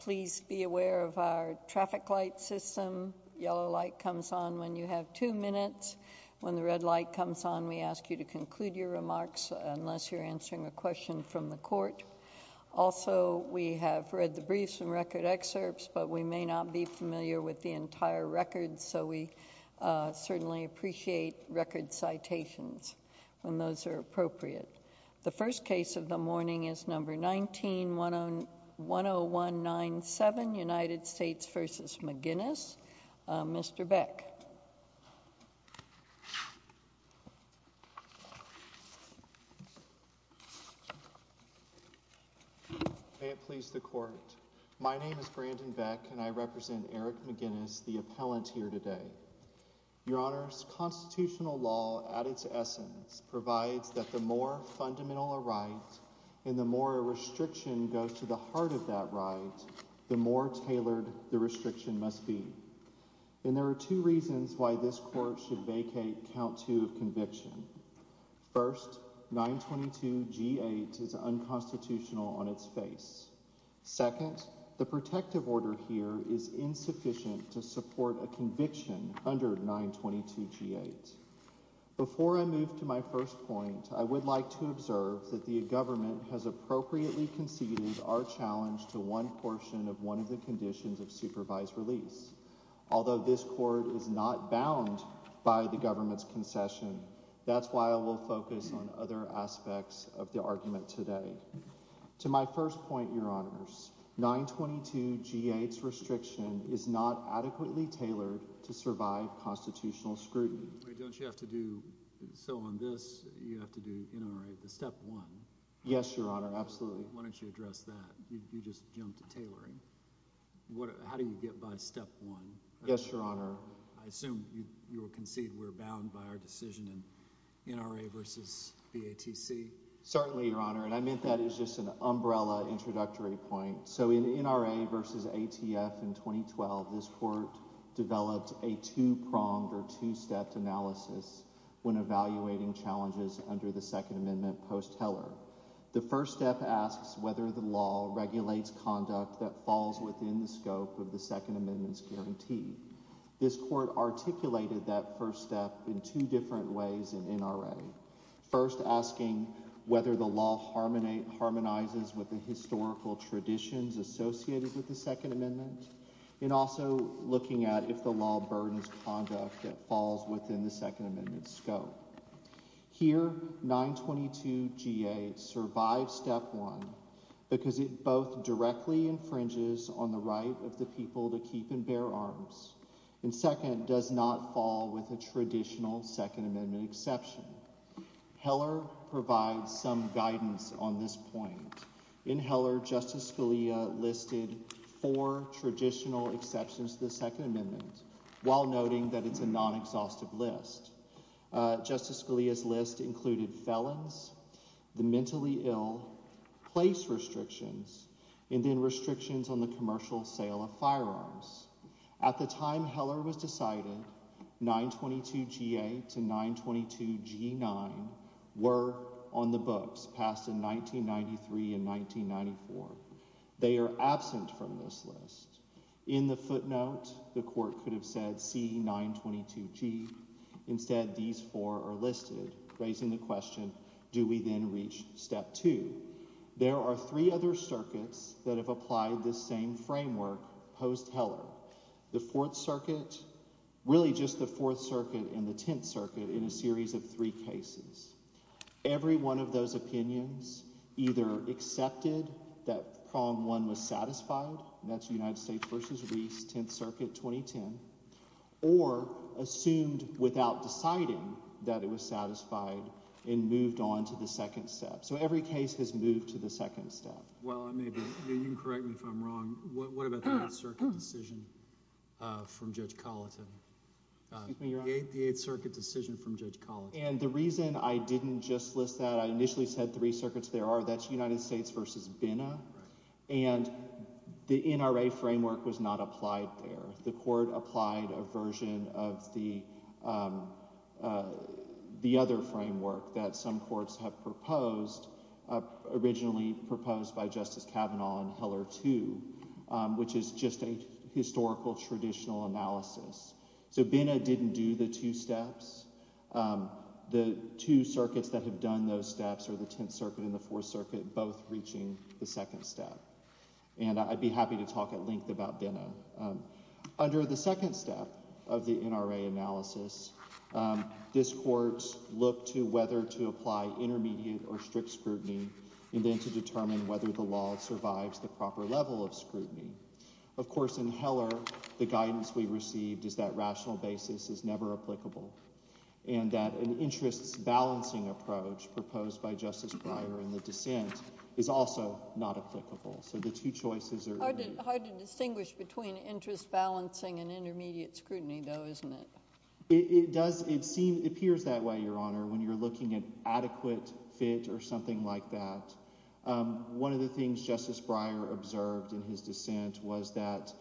Please be aware of our traffic light system. Yellow light comes on when you have two minutes. When the red light comes on we ask you to conclude your remarks unless you're answering a question from the court. Also we have read the briefs and record excerpts but we may not be familiar with the entire record so we certainly appreciate record citations when those are appropriate. The first case of the morning is number 19-10197 United States v. McGinnis. Mr. Beck. May it please the court. My name is Brandon Beck and I represent Eric McGinnis, the appellant here today. Your honors, constitutional law at its essence provides that the more fundamental a right and the more a restriction goes to the heart of that right, the more tailored the restriction must be. And there are two reasons why this court should vacate count two of conviction. First, 922 G8 is unconstitutional on its face. Second, the protective order here is insufficient to support a conviction under 922 G8. Before I move to my first point, I would like to observe that the government has appropriately conceded our challenge to one portion of one of the conditions of supervised release. Although this court is not bound by the government's concession, that's why I will focus on other aspects of the argument today. To my first point, your honors, 922 G8's restriction is not adequately tailored to NRA. The step one. Yes, your honor. Absolutely. Why don't you address that? You just jumped to tailoring. How do you get by step one? Yes, your honor. I assume you will concede we're bound by our decision in NRA versus BATC? Certainly, your honor. And I meant that as just an umbrella introductory point. So in NRA versus ATF in 2012, this court developed a two-pronged or two-stepped analysis when evaluating challenges under the Second Amendment post-Heller. The first step asks whether the law regulates conduct that falls within the scope of the Second Amendment's guarantee. This court articulated that first step in two different ways in NRA. First, asking whether the law harmonizes with the historical traditions associated with the Second Amendment, and also looking at if the law burdens conduct that falls within the Second Amendment's scope. Here, 922 G8 survives step one because it both directly infringes on the right of the people to keep and bear arms, and second, does not fall with a traditional Second Amendment exception. Heller provides some guidance on this point. In Heller, Justice Scalia listed four traditional exceptions to the Second Amendment while noting that it's a non-exhaustive list. Justice Scalia's list included felons, the mentally ill, place restrictions, and then restrictions on the commercial sale of firearms. At the time Heller was decided, 922 G8 to 922 G9 were on the books passed in 1993 and 1994. They are absent from this list. In the footnote, the court could have said, see 922 G. Instead, these four are listed, raising the question, do we then reach step two? There are three other circuits that have applied this same framework post-Heller. The Fourth Circuit, really just the Fourth Circuit and the Tenth Circuit in a series of three cases. Every one of those opinions either accepted that prong one was satisfied, and that's United States v. Reese, Tenth Circuit, 2010, or assumed without deciding that it was satisfied and moved on to the second step. So every case has moved to the What about the Eighth Circuit decision from Judge Colleton? The Eighth Circuit decision from Judge Colleton. And the reason I didn't just list that, I initially said three circuits there are, that's United States v. Binna, and the NRA framework was not applied there. The court applied a version of the other framework that some courts have proposed, originally proposed by Justice Kavanaugh in Heller 2, which is just a historical, traditional analysis. So Binna didn't do the two steps. The two circuits that have done those steps are the Tenth Circuit and the Fourth Circuit, both reaching the second step. And I'd be happy to talk at length about Binna. Under the second step of the NRA analysis, this court looked to whether to apply intermediate or the proper level of scrutiny. Of course, in Heller, the guidance we received is that rational basis is never applicable, and that an interest-balancing approach proposed by Justice Breyer in the dissent is also not applicable. So the two choices are hard to distinguish between interest balancing and intermediate scrutiny, though, isn't it? It does, it seems, appears that way, Your Honor, when you're looking at adequate fit or something like that. One of the things Justice Breyer observed in his dissent was that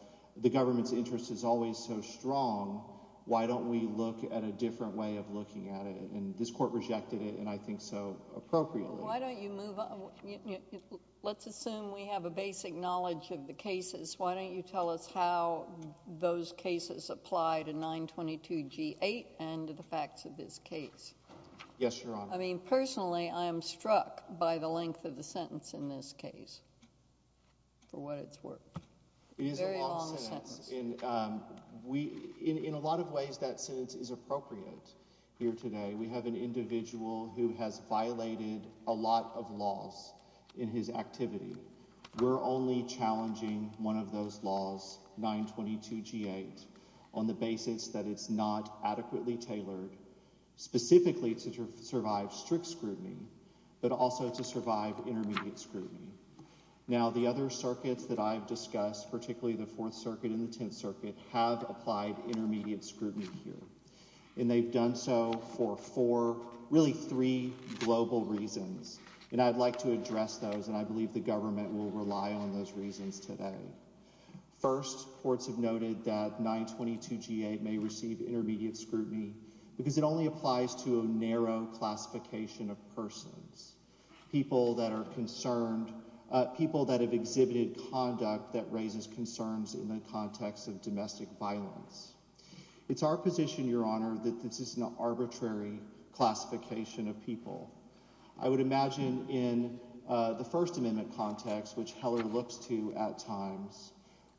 the government's interest is always so strong, why don't we look at a different way of looking at it? And this court rejected it, and I think so appropriately. Why don't you move on? Let's assume we have a basic knowledge of the cases. Why don't you tell us how those cases apply to 922 G-8 and to the facts of this case? Yes, Your Honor. I mean, personally, I am struck by the length of the sentence in this case, for what it's worth. It is a long sentence. Very long sentence. In a lot of ways, that sentence is appropriate here today. We have an individual who has violated a lot of laws in his activity. We're only challenging one of those laws, 922 G-8, on the basis that it's not adequately tailored specifically to survive strict scrutiny, but also to survive intermediate scrutiny. Now, the other circuits that I've discussed, particularly the Fourth Circuit and the Tenth Circuit, have applied intermediate scrutiny here, and they've done so for four, really three global reasons, and I'd like to address those, and I believe the government will rely on those reasons today. First, courts have noted that 922 G-8 may receive intermediate scrutiny because it only applies to a narrow classification of persons, people that are concerned, people that have exhibited conduct that raises concerns in the context of domestic violence. It's our position, Your Honor, that this is an arbitrary classification of people. I would imagine in the First Amendment context, which Heller looks to at times,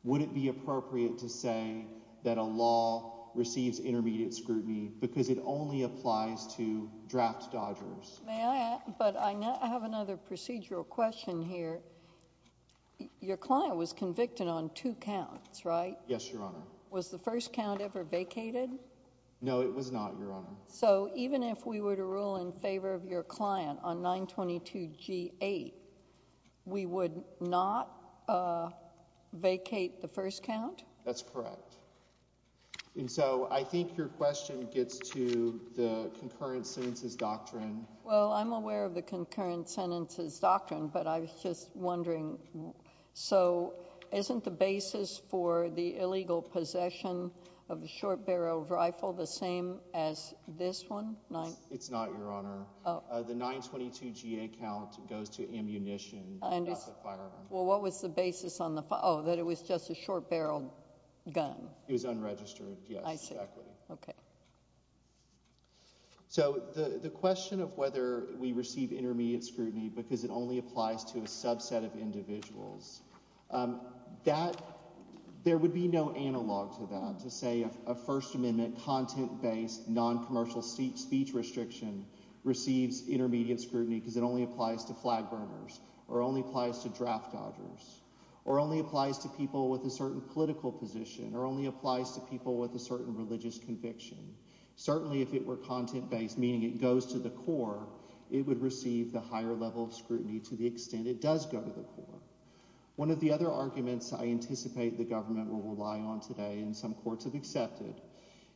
would it be appropriate to say that a law receives intermediate scrutiny because it only applies to draft dodgers? May I add, but I have another procedural question here. Your client was convicted on two counts, right? Yes, Your Honor. Was the first count ever vacated? No, it was not, Your Honor. So even if we were to rule in favor of your client on 922 G-8, we would not vacate the first count? That's correct, and so I think your question gets to the concurrent sentences doctrine. Well, I'm aware of the concurrent sentences doctrine, but I was just wondering, so isn't the basis for the illegal possession of a short-barreled rifle the same as this one? It's not, Your Honor. The 922 G-8 count goes to ammunition, not the firearm. Well, what was the basis on the, oh, that it was just a short-barreled gun? It was unregistered, yes, exactly. Okay. So the question of whether we receive intermediate scrutiny because it only applies to a subset of individuals, there would be no analog to that, to say a First Amendment content-based, non-commercial speech restriction receives intermediate scrutiny because it only applies to flag burners or only applies to draft dodgers or only applies to people with a certain political position or only applies to people with a certain religious conviction. Certainly, if it were content-based, meaning it goes to the core, it would receive the higher level of scrutiny to the extent it does go to the core. One of the other arguments I anticipate the government will rely on today, and some courts have accepted,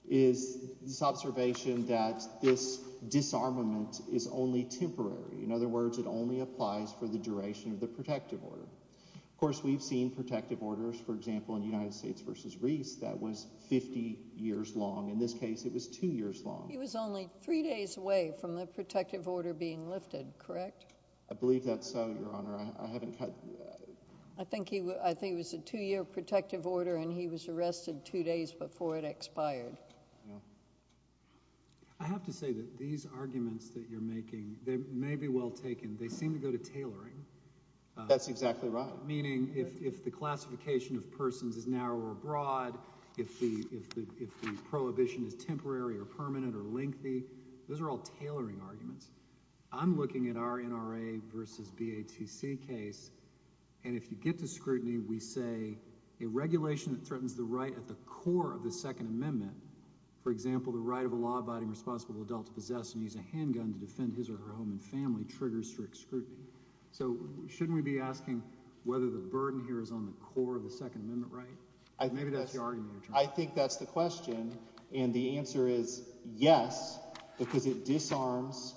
is this observation that this disarmament is only temporary. In other words, it only applies for the duration of the protective order. Of course, we've seen protective orders, for example, in United States v. Reese that was 50 years long. In this case, it was two years long. He was only three days away from the protective order being lifted, correct? I believe that's so, Your Honor. I haven't cut... I think it was a two-year protective order and he was arrested two days before it expired. I have to say that these arguments that you're making, they may be well taken. They seem to go to tailoring. That's exactly right. Meaning if the classification of persons is narrow or broad, if the prohibition is temporary or lengthy, those are all tailoring arguments. I'm looking at our NRA v. BATC case and if you get to scrutiny, we say a regulation that threatens the right at the core of the Second Amendment, for example, the right of a law-abiding responsible adult to possess and use a handgun to defend his or her home and family triggers strict scrutiny. So shouldn't we be asking whether the burden here is on the core of the Second Amendment right? Maybe that's your argument. I think that's the question and the answer is yes because it disarms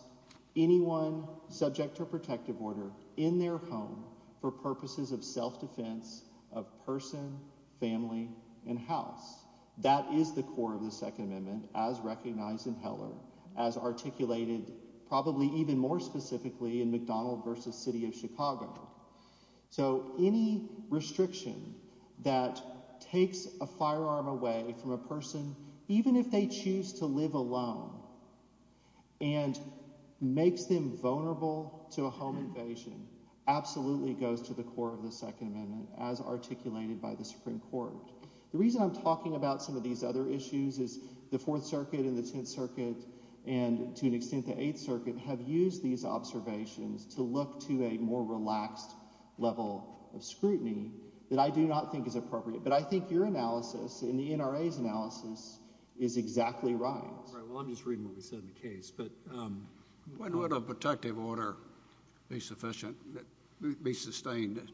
anyone subject to a protective order in their home for purposes of self-defense of person, family, and house. That is the core of the Second Amendment as recognized in Heller, as articulated probably even more specifically in McDonald v. City of Chicago. So any restriction that takes a firearm away from a person, even if they choose to live alone, and makes them vulnerable to a home invasion absolutely goes to the core of the Second Amendment as articulated by the Supreme Court. The reason I'm talking about some of these other issues is the Fourth Circuit and the Tenth Circuit and to an extent the Eighth Circuit have used these observations to look to a more relaxed level of scrutiny that I do not think is appropriate but I think your analysis in the NRA's analysis is exactly right. Right well I'm just reading what we said in the case but when would a protective order be sufficient, be sustained?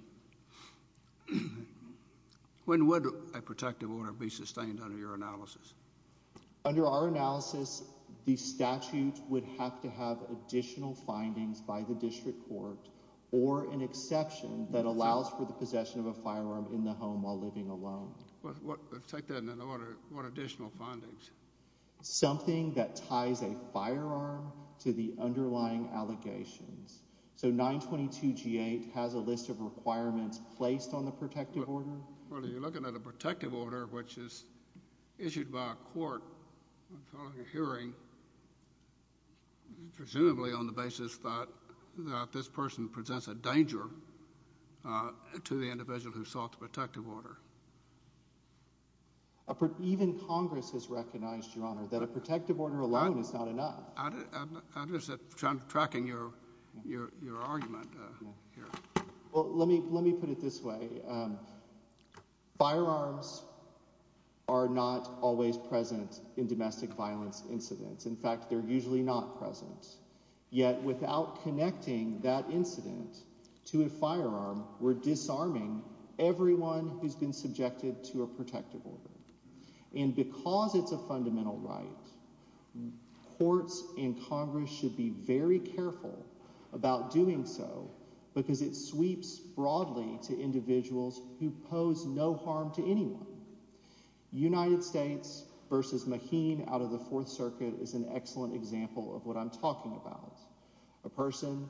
When would a protective order be sustained under your analysis? Under our analysis the statute would have to have additional findings by the district court or an exception that allows for the possession of a firearm in the home while living alone. Well let's take that in an order, what additional findings? Something that ties a firearm to the underlying allegations. So 922 G8 has a list of requirements placed on the protective order. Well you're looking at a court hearing presumably on the basis that this person presents a danger to the individual who sought the protective order. Even Congress has recognized your honor that a protective order alone is not enough. I'm just tracking your argument here. Well let me put it this way, firearms are not always present in domestic violence incidents. In fact they're usually not present yet without connecting that incident to a firearm we're disarming everyone who's been subjected to a protective order and because it's a fundamental right courts and Congress should be very careful about doing so because it sweeps broadly to individuals who pose no harm to anyone. United States versus Maheen out of the fourth circuit is an excellent example of what I'm talking about. A person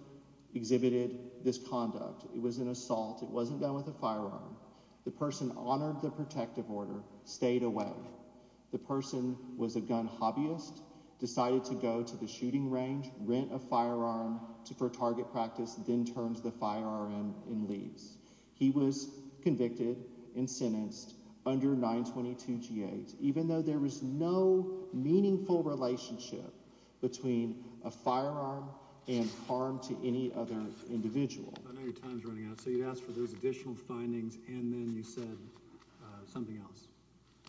exhibited this conduct, it was an assault, it wasn't done with a firearm. The person honored the protective order, stayed away. The person was a gun hobbyist, decided to go to the shooting range, rent a firearm for target practice, then turns the firearm in leaves. He was convicted and sentenced under 922 g8 even though there was no meaningful relationship between a firearm and harm to any other individual. I know your time's running out so you asked for those additional findings and then you said something else.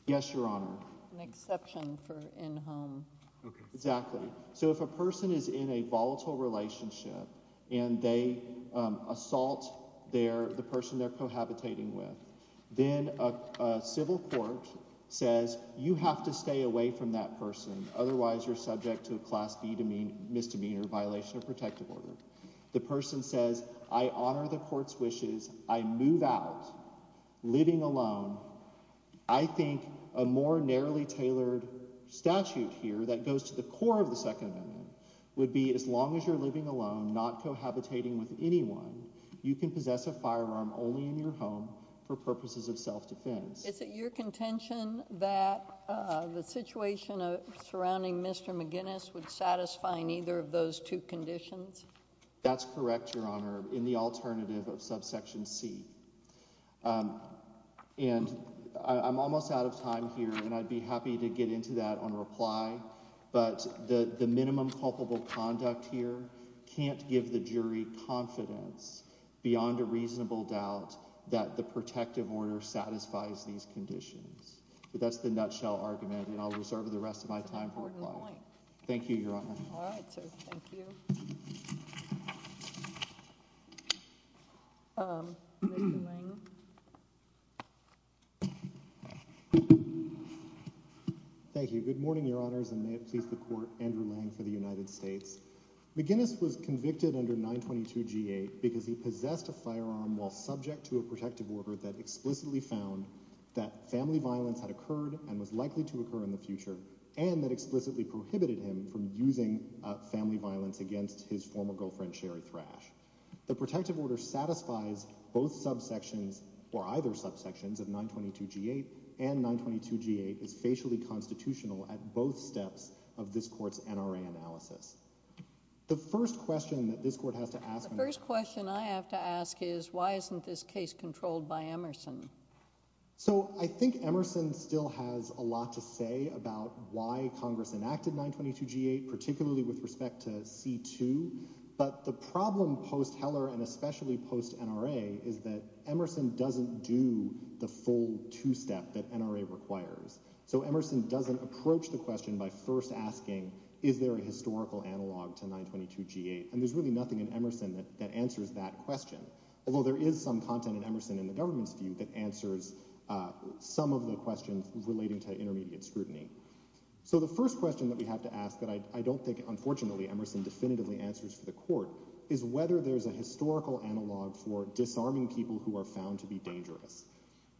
Yes your honor. An exception for in home. Okay exactly. So if a person is in a volatile relationship and they assault the person they're cohabitating with then a civil court says you have to stay away from that person otherwise you're subject to a class B misdemeanor violation of protective order. The person says I honor the court's wishes, I move out living alone. I think a more narrowly tailored statute here that goes to the core of the second amendment would be as long as you're living alone not cohabitating with anyone you can possess a firearm only in your home for purposes of self-defense. Is it your contention that the situation of surrounding Mr. McGinnis would satisfy neither of those two conditions? That's correct your honor in the alternative of subsection c and I'm almost out of time here and I'd be happy to get into that on reply but the the minimum culpable conduct here can't give the jury confidence beyond a reasonable doubt that the protective order satisfies these conditions but that's the nutshell argument and I'll reserve the rest of my time. Thank you your honor. All right so thank you. Thank you good morning your honors and may it please the court Andrew Lang for the United States. McGinnis was convicted under 922 g8 because he possessed a firearm while subject to a protective order that explicitly found that family violence had occurred and was likely to occur in the future and that explicitly prohibited him from using family violence against his former girlfriend Sherry Thrash. The protective order satisfies both subsections or either subsections of 922 g8 and 922 g8 is facially constitutional at both steps of this court's NRA analysis. The first question that this court has to ask the first question I have to ask is why isn't this case controlled by Emerson? So I think Emerson still has a lot to say about why Congress enacted 922 g8 particularly with respect to c2 but the problem post Heller and especially post NRA is that Emerson doesn't do the full two-step that NRA requires. So Emerson doesn't approach the question by first asking is there a historical analog to 922 g8 and there's really nothing in Emerson that answers that question although there is some content in Emerson in the government's view that answers some of the questions relating to intermediate scrutiny. So the first question that we have to ask that I don't think unfortunately Emerson definitively answers for the court is whether there's a historical analog for disarming people who are found to be dangerous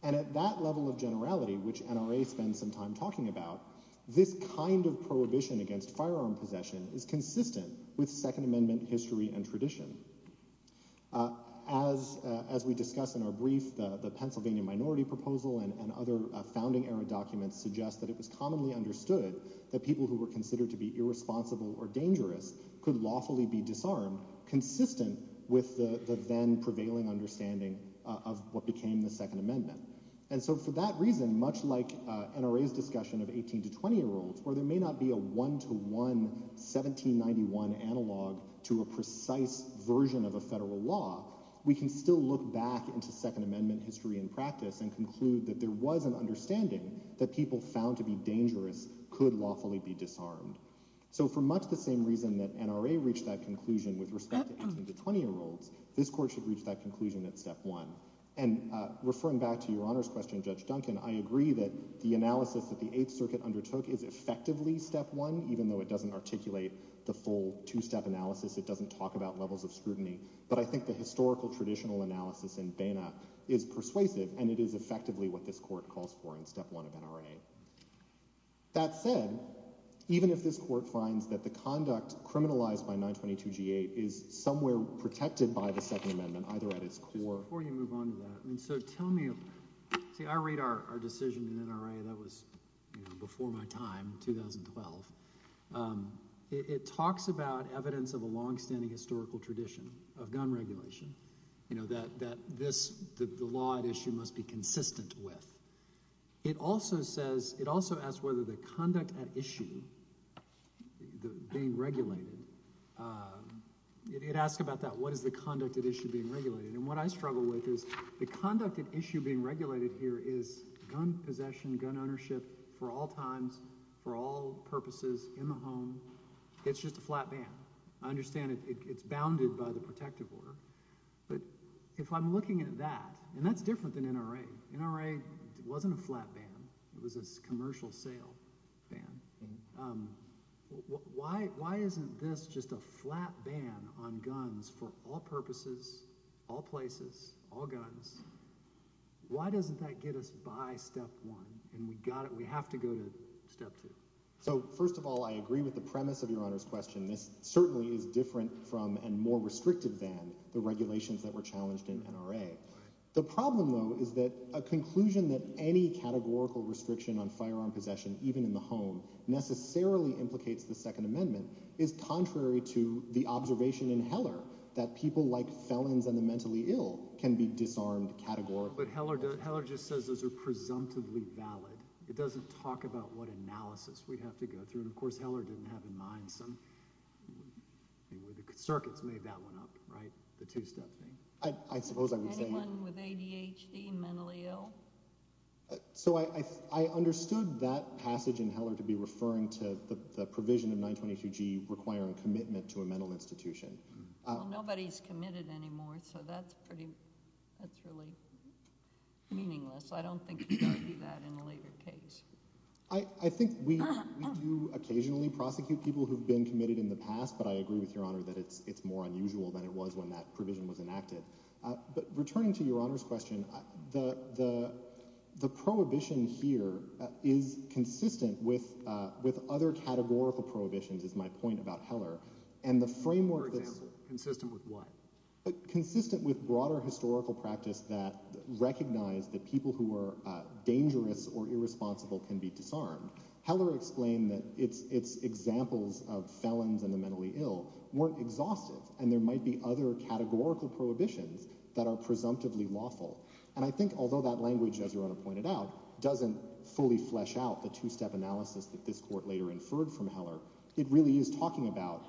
and at that level of generality which NRA spends some time talking about this kind of prohibition against firearm possession is consistent with second amendment history and tradition. As we discuss in our brief the Pennsylvania minority proposal and other founding era documents suggest that it was commonly understood that people who were considered to be irresponsible or dangerous could lawfully be disarmed consistent with the then prevailing understanding of what became the second amendment and so for that reason much like NRA's discussion of 18 to 20 year olds where there may not be a one-to-one 1791 analog to a precise version of a federal law we can still look back into second amendment history and practice and conclude that there was an understanding that people found to be dangerous could lawfully be disarmed. So for much the same reason that NRA reached that conclusion with respect to 18 to 20 year olds this court should reach that conclusion at step one and referring back to your honor's question Judge undertook is effectively step one even though it doesn't articulate the full two-step analysis it doesn't talk about levels of scrutiny but I think the historical traditional analysis in Banna is persuasive and it is effectively what this court calls for in step one of NRA. That said even if this court finds that the conduct criminalized by 922 g8 is somewhere protected by the second amendment either at its core. Before you move on to that I mean so tell me see I read our decision in NRA that was you know before my time 2012. It talks about evidence of a long-standing historical tradition of gun regulation you know that that this the law at issue must be consistent with. It also says it also asks whether the conduct at issue being regulated it asks about that what is the conduct at issue being regulated and what I think is being regulated here is gun possession gun ownership for all times for all purposes in the home. It's just a flat ban. I understand it's bounded by the protective order but if I'm looking at that and that's different than NRA. NRA wasn't a flat ban it was a commercial sale ban. Why isn't this just a flat ban on guns for all purposes all places all guns why doesn't that get us by step one and we got it we have to go to step two. So first of all I agree with the premise of your honor's question this certainly is different from and more restrictive than the regulations that were challenged in NRA. The problem though is that a conclusion that any categorical restriction on firearm possession even in the home necessarily implicates the second amendment is contrary to the observation in Heller that people like felons and the mentally ill can be disarmed categorically. But Heller does Heller just says those are presumptively valid it doesn't talk about what analysis we'd have to go through and of course Heller didn't have in mind some circuits made that one up right the two-step thing. I suppose I would say anyone with ADHD mentally ill. So I understood that passage in Heller to be referring to the provision of 922g requiring commitment to a mental institution. Nobody's committed anymore so that's pretty that's really meaningless. I don't think you've got to do that in a later case. I think we do occasionally prosecute people who've been committed in the past but I agree with your honor that it's it's more unusual than it was when that provision was enacted. But returning to your honor's question the prohibition here is consistent with other categorical prohibitions is my point about consistent with broader historical practice that recognize that people who are dangerous or irresponsible can be disarmed. Heller explained that it's it's examples of felons and the mentally ill weren't exhaustive and there might be other categorical prohibitions that are presumptively lawful and I think although that language as your honor pointed out doesn't fully flesh out the two-step analysis that this court later inferred from Heller. It really is talking about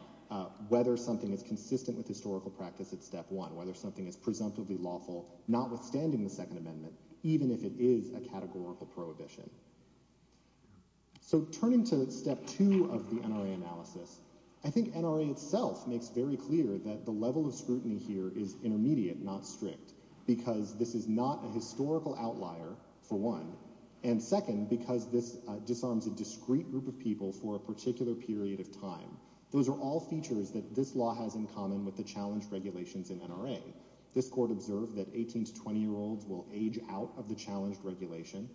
whether something is consistent with historical practice at step one whether something is presumptively lawful notwithstanding the second amendment even if it is a categorical prohibition. So turning to step two of the NRA analysis I think NRA itself makes very clear that the level of scrutiny here is intermediate not strict because this is not a historical outlier for one and second because this disarms a discrete group of people for a particular period of time. Those are all features that this law has in common with the challenge regulations in NRA. This court observed that 18 to 20 year olds will age out of the challenged regulation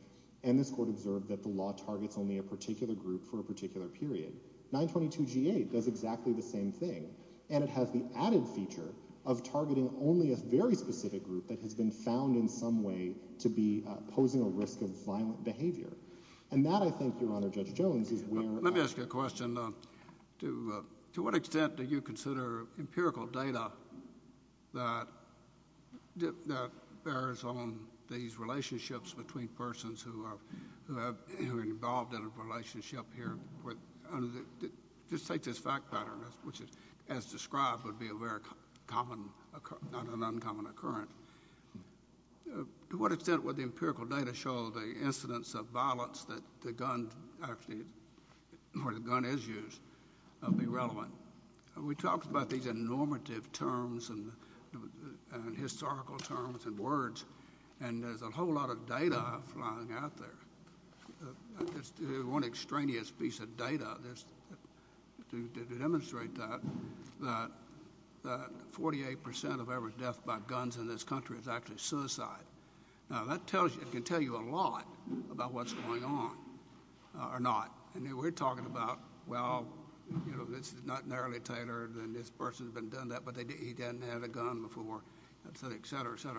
and this court observed that the law targets only a particular group for a particular period. 922 g8 does exactly the same thing and it has the added feature of targeting only a very specific group that has been found in some way to be posing a risk of violent behavior and that I think your to what extent do you consider empirical data that that bears on these relationships between persons who are who have who are involved in a relationship here with under the just take this fact pattern which is as described would be a very common not an uncommon occurrence. To what extent would the empirical data show the incidence of violence that the gun actually where the gun is used be relevant? We talked about these in normative terms and historical terms and words and there's a whole lot of data flying out there. It's one extraneous piece of data there's to demonstrate that that 48 percent of every death by guns in this country is actually suicide. Now that tells you it can tell you a lot about what's going on or not and we're talking about well you know this is not narrowly tailored and this person's been done that but they didn't he didn't have a gun before etc etc.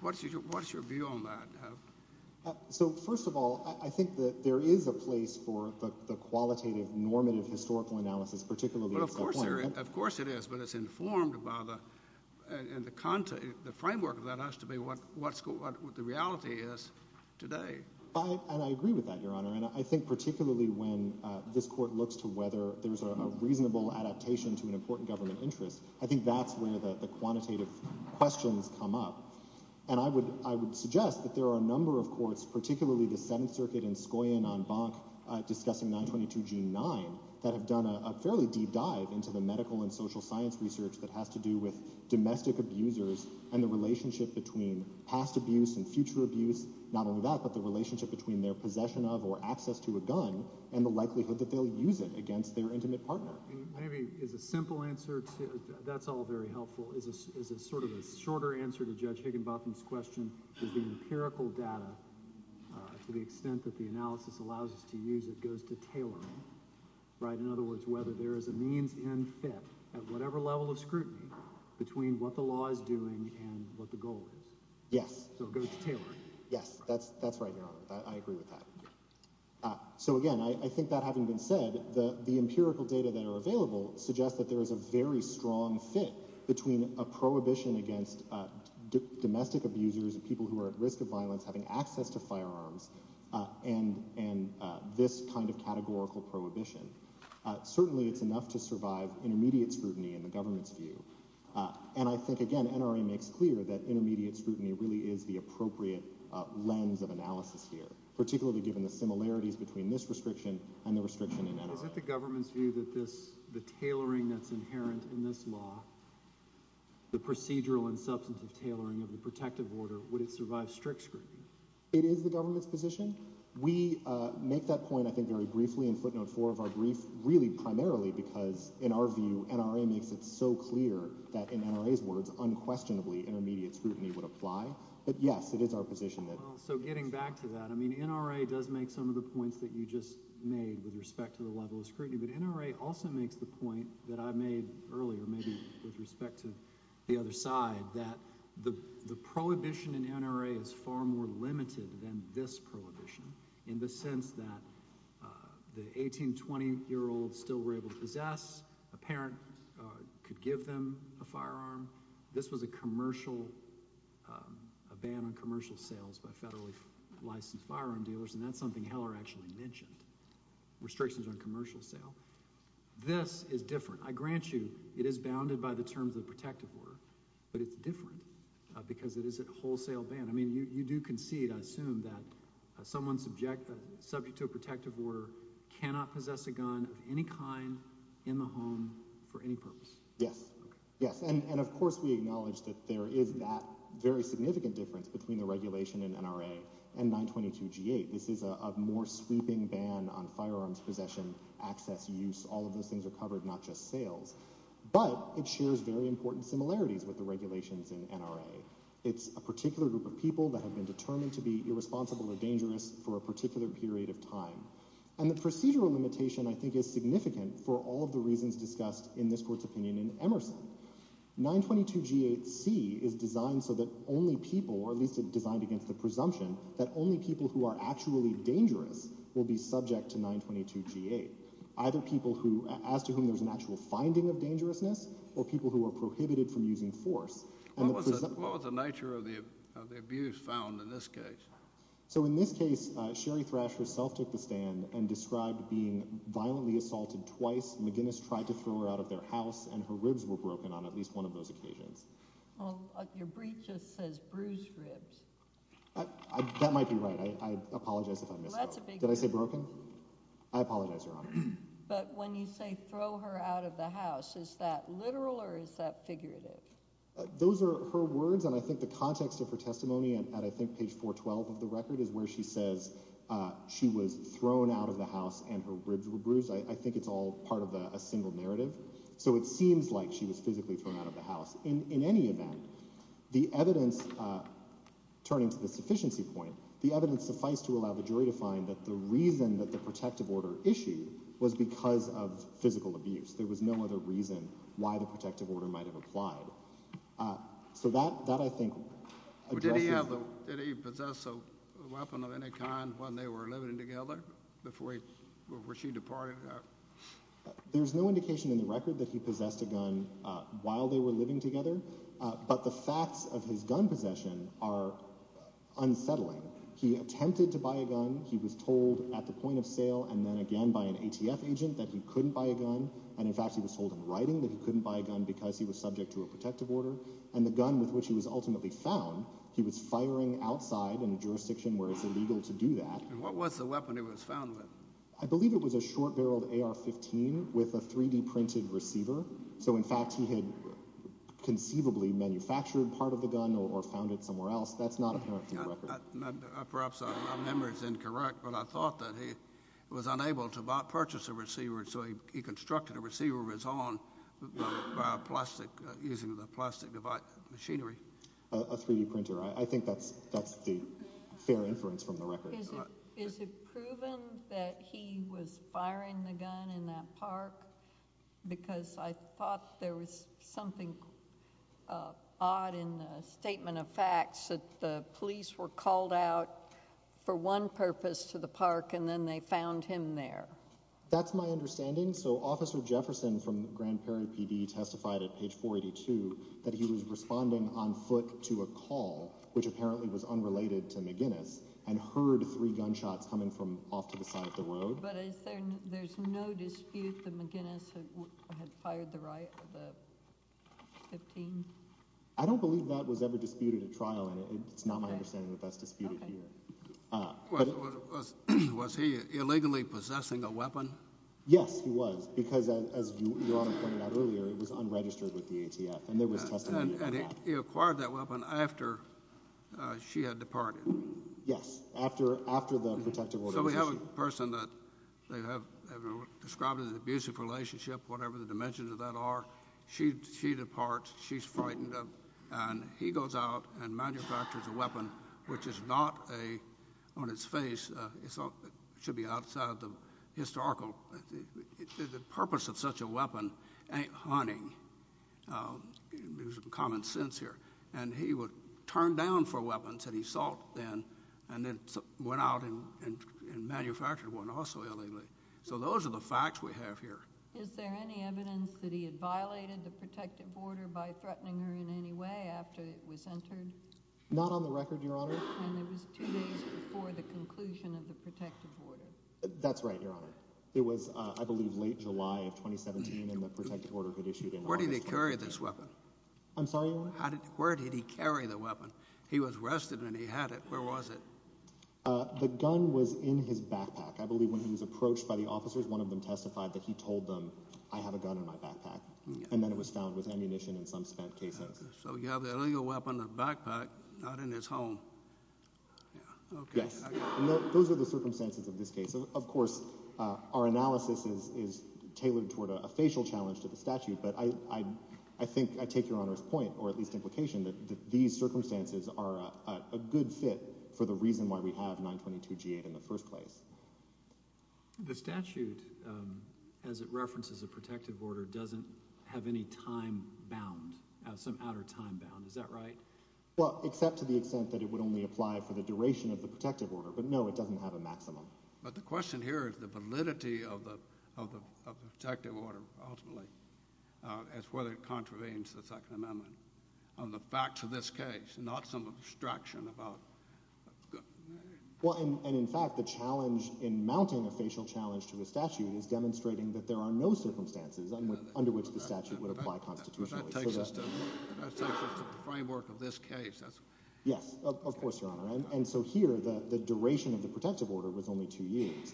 What's your what's your view on that? So first of all I think that there is a place for the qualitative normative historical analysis particularly of course there of course it is but it's informed by the and the content the framework of that has to be what what's what the reality is today. I and I agree with that your honor and I think particularly when uh this court looks to whether there's a reasonable adaptation to an important government interest I think that's where the the quantitative questions come up and I would I would suggest that there are a number of courts particularly the seventh circuit in scion on bonk uh discussing 922 g9 that have done a fairly deep dive into the medical and the relationship between past abuse and future abuse not only that but the relationship between their possession of or access to a gun and the likelihood that they'll use it against their intimate partner. Maybe is a simple answer to that's all very helpful is a is a sort of a shorter answer to judge Higginbotham's question is the empirical data to the extent that the analysis allows us to use it goes to tailoring right in other words whether there is a means and fit at whatever level of scrutiny between what the law is doing and what the goal is yes so it goes to tailoring yes that's that's right your honor I agree with that uh so again I think that having been said the the empirical data that are available suggests that there is a very strong fit between a prohibition against uh domestic abusers and people who are at risk of violence having access to firearms uh and and uh this kind of categorical prohibition uh certainly it's enough to survive intermediate scrutiny in the government's view uh and I think again NRA makes clear that intermediate scrutiny really is the appropriate uh lens of analysis here particularly given the similarities between this restriction and the restriction in NRA. Is it the government's view that this the tailoring that's inherent in this law the procedural and substantive tailoring of the protective order would it survive strict scrutiny? It is the government's position we uh make that point I think very briefly in footnote four of our brief really primarily because in our view NRA makes it so clear that in NRA's words unquestionably intermediate scrutiny would apply but yes it is our position that so getting back to that I mean NRA does make some of the points that you just made with respect to the level of scrutiny but NRA also makes the point that I made earlier maybe with respect to the other side that the the prohibition in NRA is far more limited than this prohibition in the sense that the 18-20 year old still were able to possess a parent could give them a firearm this was a commercial um a ban on commercial sales by federally licensed firearm dealers and that's something Heller actually mentioned restrictions on commercial sale this is different I grant you it is bounded by the terms of assume that someone subject subject to a protective order cannot possess a gun of any kind in the home for any purpose yes yes and and of course we acknowledge that there is that very significant difference between the regulation in NRA and 922 g8 this is a more sweeping ban on firearms possession access use all of those things are covered not just sales but it shares very important similarities with the regulations in NRA it's a particular group of people that have determined to be irresponsible or dangerous for a particular period of time and the procedural limitation I think is significant for all of the reasons discussed in this court's opinion in Emerson 922 g8 c is designed so that only people or at least designed against the presumption that only people who are actually dangerous will be subject to 922 g8 either people who as to whom there's an actual finding of dangerousness or people who are prohibited from using force what so in this case uh sherry thrash herself took the stand and described being violently assaulted twice McGinnis tried to throw her out of their house and her ribs were broken on at least one of those occasions well your brief just says bruised ribs I that might be right I I apologize if I missed that's a big did I say broken I apologize your honor but when you say throw her out of the house is that literal or is that figurative those are her words and I think the page 412 of the record is where she says uh she was thrown out of the house and her ribs were bruised I think it's all part of a single narrative so it seems like she was physically thrown out of the house in in any event the evidence uh turning to the sufficiency point the evidence suffice to allow the jury to find that the reason that the protective order issue was because of physical abuse there was no other reason why the protective order might have applied uh so that that I think did he have did he possess a weapon of any kind when they were living together before he where she departed there's no indication in the record that he possessed a gun uh while they were living together uh but the facts of his gun possession are unsettling he attempted to buy a gun he was told at the point of sale and then again by an ATF agent that he couldn't buy a gun and in fact he was told in writing that he couldn't buy a gun because he was subject to a he was firing outside in a jurisdiction where it's illegal to do that and what was the weapon he was found with I believe it was a short barreled ar-15 with a 3d printed receiver so in fact he had conceivably manufactured part of the gun or found it somewhere else that's not apparent from the record perhaps our memory is incorrect but I thought that he was unable to purchase a receiver so he constructed a receiver of his own by plastic using the plastic device machinery a 3d printer I think that's that's the fair inference from the record is it proven that he was firing the gun in that park because I thought there was something odd in the statement of facts that the police were called out for one purpose to the park and then they found him there that's my understanding so officer Jefferson from Grand Prairie PD testified at page 482 that he was responding on foot to a call which apparently was unrelated to McGinnis and heard three gunshots coming from off to the side of the road but there's no dispute that McGinnis had fired the right of the 15. I don't believe that was ever disputed at trial and it's not my understanding that that's disputed here. Was he illegally possessing a weapon? Yes he was because as your honor pointed out earlier it was unregistered with the ATF and there was testimony and he acquired that weapon after she had departed yes after after the protective order so we have a person that they have described as an abusive relationship whatever the dimensions of that are she she departs she's frightened up and he goes out and manufactures a weapon which is not a on its face it's all should be outside the historical the purpose of such a weapon ain't haunting there's some common sense here and he would turn down for weapons that he sought then and then went out and and manufactured one also illegally so those are the facts we have here. Is there any evidence that he had violated the protective order by threatening her in any way after it was entered? Not on the record your honor. And it was two days before the conclusion of the protective order? That's right your honor it was uh I believe late July of 2017 and the protective order had issued. Where did he carry this weapon? I'm sorry your honor? Where did he carry the weapon? He was arrested and he had it where was it? Uh the gun was in his backpack I believe when he was approached by the officers one of them testified that he told them I have a legal weapon a backpack not in his home. Yeah okay. Yes those are the circumstances of this case of course uh our analysis is is tailored toward a facial challenge to the statute but I I think I take your honor's point or at least implication that these circumstances are a good fit for the reason why we have 922 g8 in the first place. The statute um as it references a protective order doesn't have any time bound some outer time bound is that right? Well except to the extent that it would only apply for the duration of the protective order but no it doesn't have a maximum. But the question here is the validity of the of the protective order ultimately uh as whether it contravenes the second amendment on the facts of this case not some abstraction about well and in fact the challenge in mounting a facial challenge to the statute is demonstrating that there are no circumstances under which the statute would apply constitutionally. Framework of this case that's yes of course your honor and so here the the duration of the protective order was only two years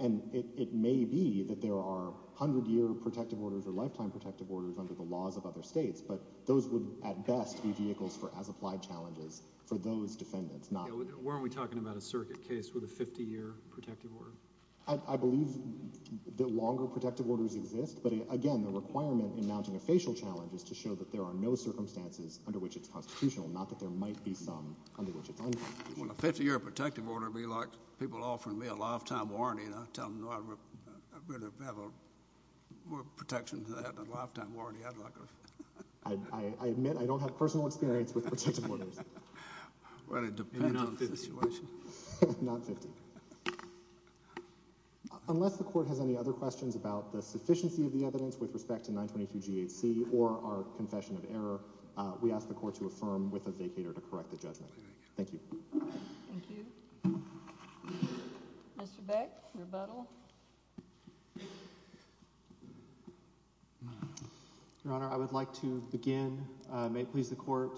and it it may be that there are 100 year protective orders or lifetime protective orders under the laws of other states but those would at best be vehicles for as applied challenges for those defendants not weren't we talking about a circuit case with a 50-year protective order? I believe that longer protective orders exist but again the requirement in mounting a facial challenge is to show that there are no circumstances under which it's constitutional not that there might be some under which it's unconstitutional. Well a 50-year protective order would be like people offering me a lifetime warranty and I tell them no I really have a more protection to that than a lifetime warranty I'd like. I admit I don't have personal experience with protective orders. Unless the court has any other questions about the sufficiency of the evidence with respect to 922 GHC or our confession of error we ask the court to affirm with a vacator to correct the judgment. Thank you. Thank you. Mr. Beck, rebuttal. Your Honor, I would like to begin, may it please the court,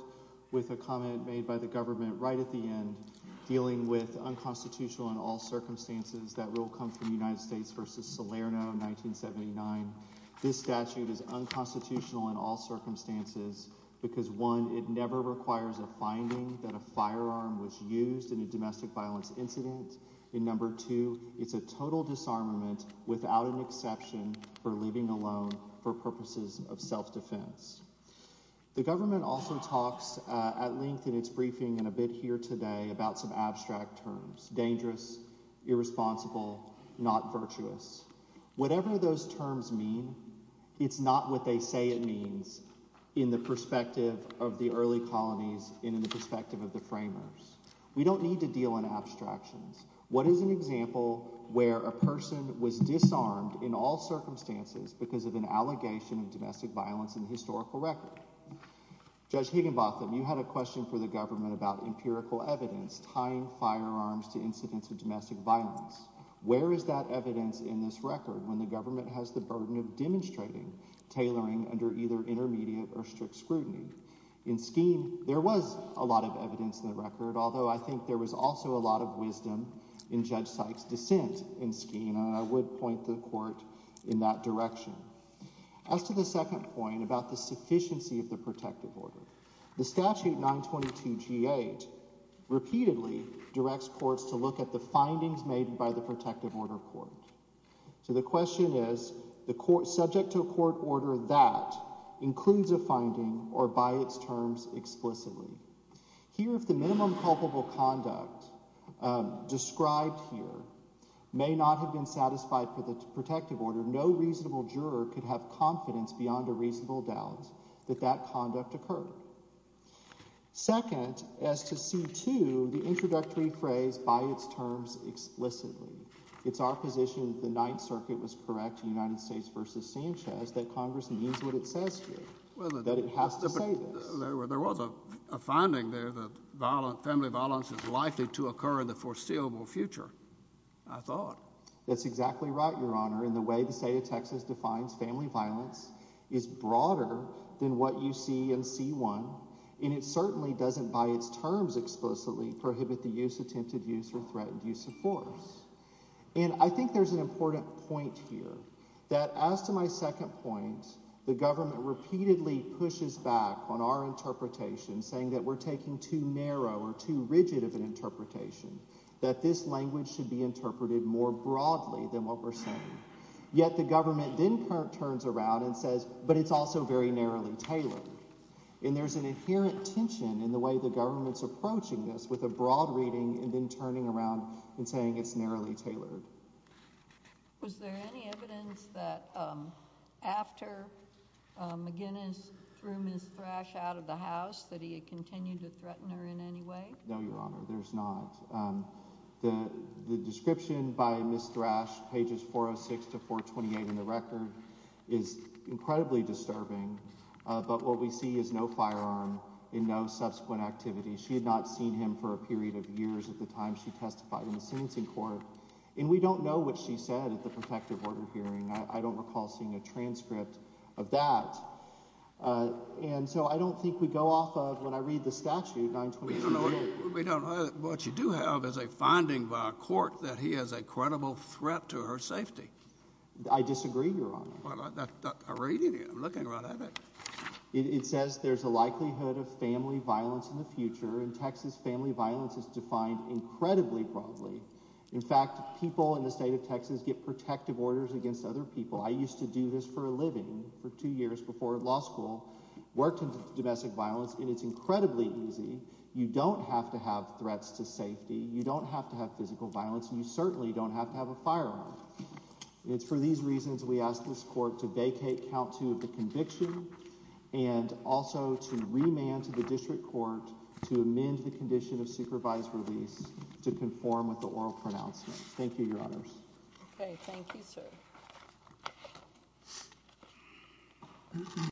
with a comment made by the government right at the end dealing with unconstitutional in all circumstances that rule come from United States versus Salerno 1979. This statute is unconstitutional in all circumstances because one it never requires a finding that a firearm was used in a domestic violence incident. In number two it's a total disarmament without an exception for leaving alone for purposes of self-defense. The government also talks at length in its briefing and a bit here today about some abstract terms dangerous irresponsible not virtuous. Whatever those terms mean it's not what they say it means in the perspective of the early colonies and in the perspective of the framers. We don't need to deal in abstractions. What is an example where a person was disarmed in all circumstances because of an allegation of domestic violence in the historical record? Judge Higginbotham, you had a question for the government about empirical evidence tying firearms to incidents of domestic violence. Where is that evidence in this record when the government has the burden of demonstrating tailoring under either intermediate or strict I think there was also a lot of wisdom in Judge Sykes' dissent in Skeen and I would point the court in that direction. As to the second point about the sufficiency of the protective order the statute 922 g8 repeatedly directs courts to look at the findings made by the protective order court. So the question is the court subject to a court order that includes a finding or by its conduct described here may not have been satisfied for the protective order no reasonable juror could have confidence beyond a reasonable doubt that that conduct occurred. Second as to c2 the introductory phrase by its terms explicitly it's our position the ninth circuit was correct United States versus Sanchez that congress means what it says here that it has to say this. There was a finding there that family violence is likely to occur in the foreseeable future I thought. That's exactly right your honor in the way the state of Texas defines family violence is broader than what you see in c1 and it certainly doesn't by its terms explicitly prohibit the use attempted use or threatened use of force and I think there's an important point here that as to my second point the government repeatedly pushes back on our interpretation saying that we're taking too narrow or too rigid of an interpretation that this language should be interpreted more broadly than what we're saying yet the government then turns around and says but it's also very narrowly tailored and there's an inherent tension in the way the government's approaching this with a broad reading and then turning around and saying it's narrowly tailored. Was there any evidence that um after McGinnis threw Ms. Thrash out of the house that he had continued to threaten her in any way? No your honor there's not. The description by Ms. Thrash pages 406 to 428 in the record is incredibly disturbing but what we see is no firearm in no subsequent activity. She had not seen him for a period of years at the time she testified in the sentencing court and we don't know what she said at the protective order hearing. I don't recall seeing a transcript of that uh and so I don't think we go off of when I read the statute. We don't know what you do have is a finding by a court that he is a credible threat to her safety. I disagree your honor. Well I read it I'm looking right at it. It says there's a likelihood of in fact people in the state of Texas get protective orders against other people. I used to do this for a living for two years before law school worked in domestic violence and it's incredibly easy. You don't have to have threats to safety. You don't have to have physical violence. You certainly don't have to have a firearm. It's for these reasons we ask this court to vacate count two of the conviction and also to remand to the district court to amend the condition of supervised release to conform with the oral pronouncement. Thank you your honors. Okay thank you sir.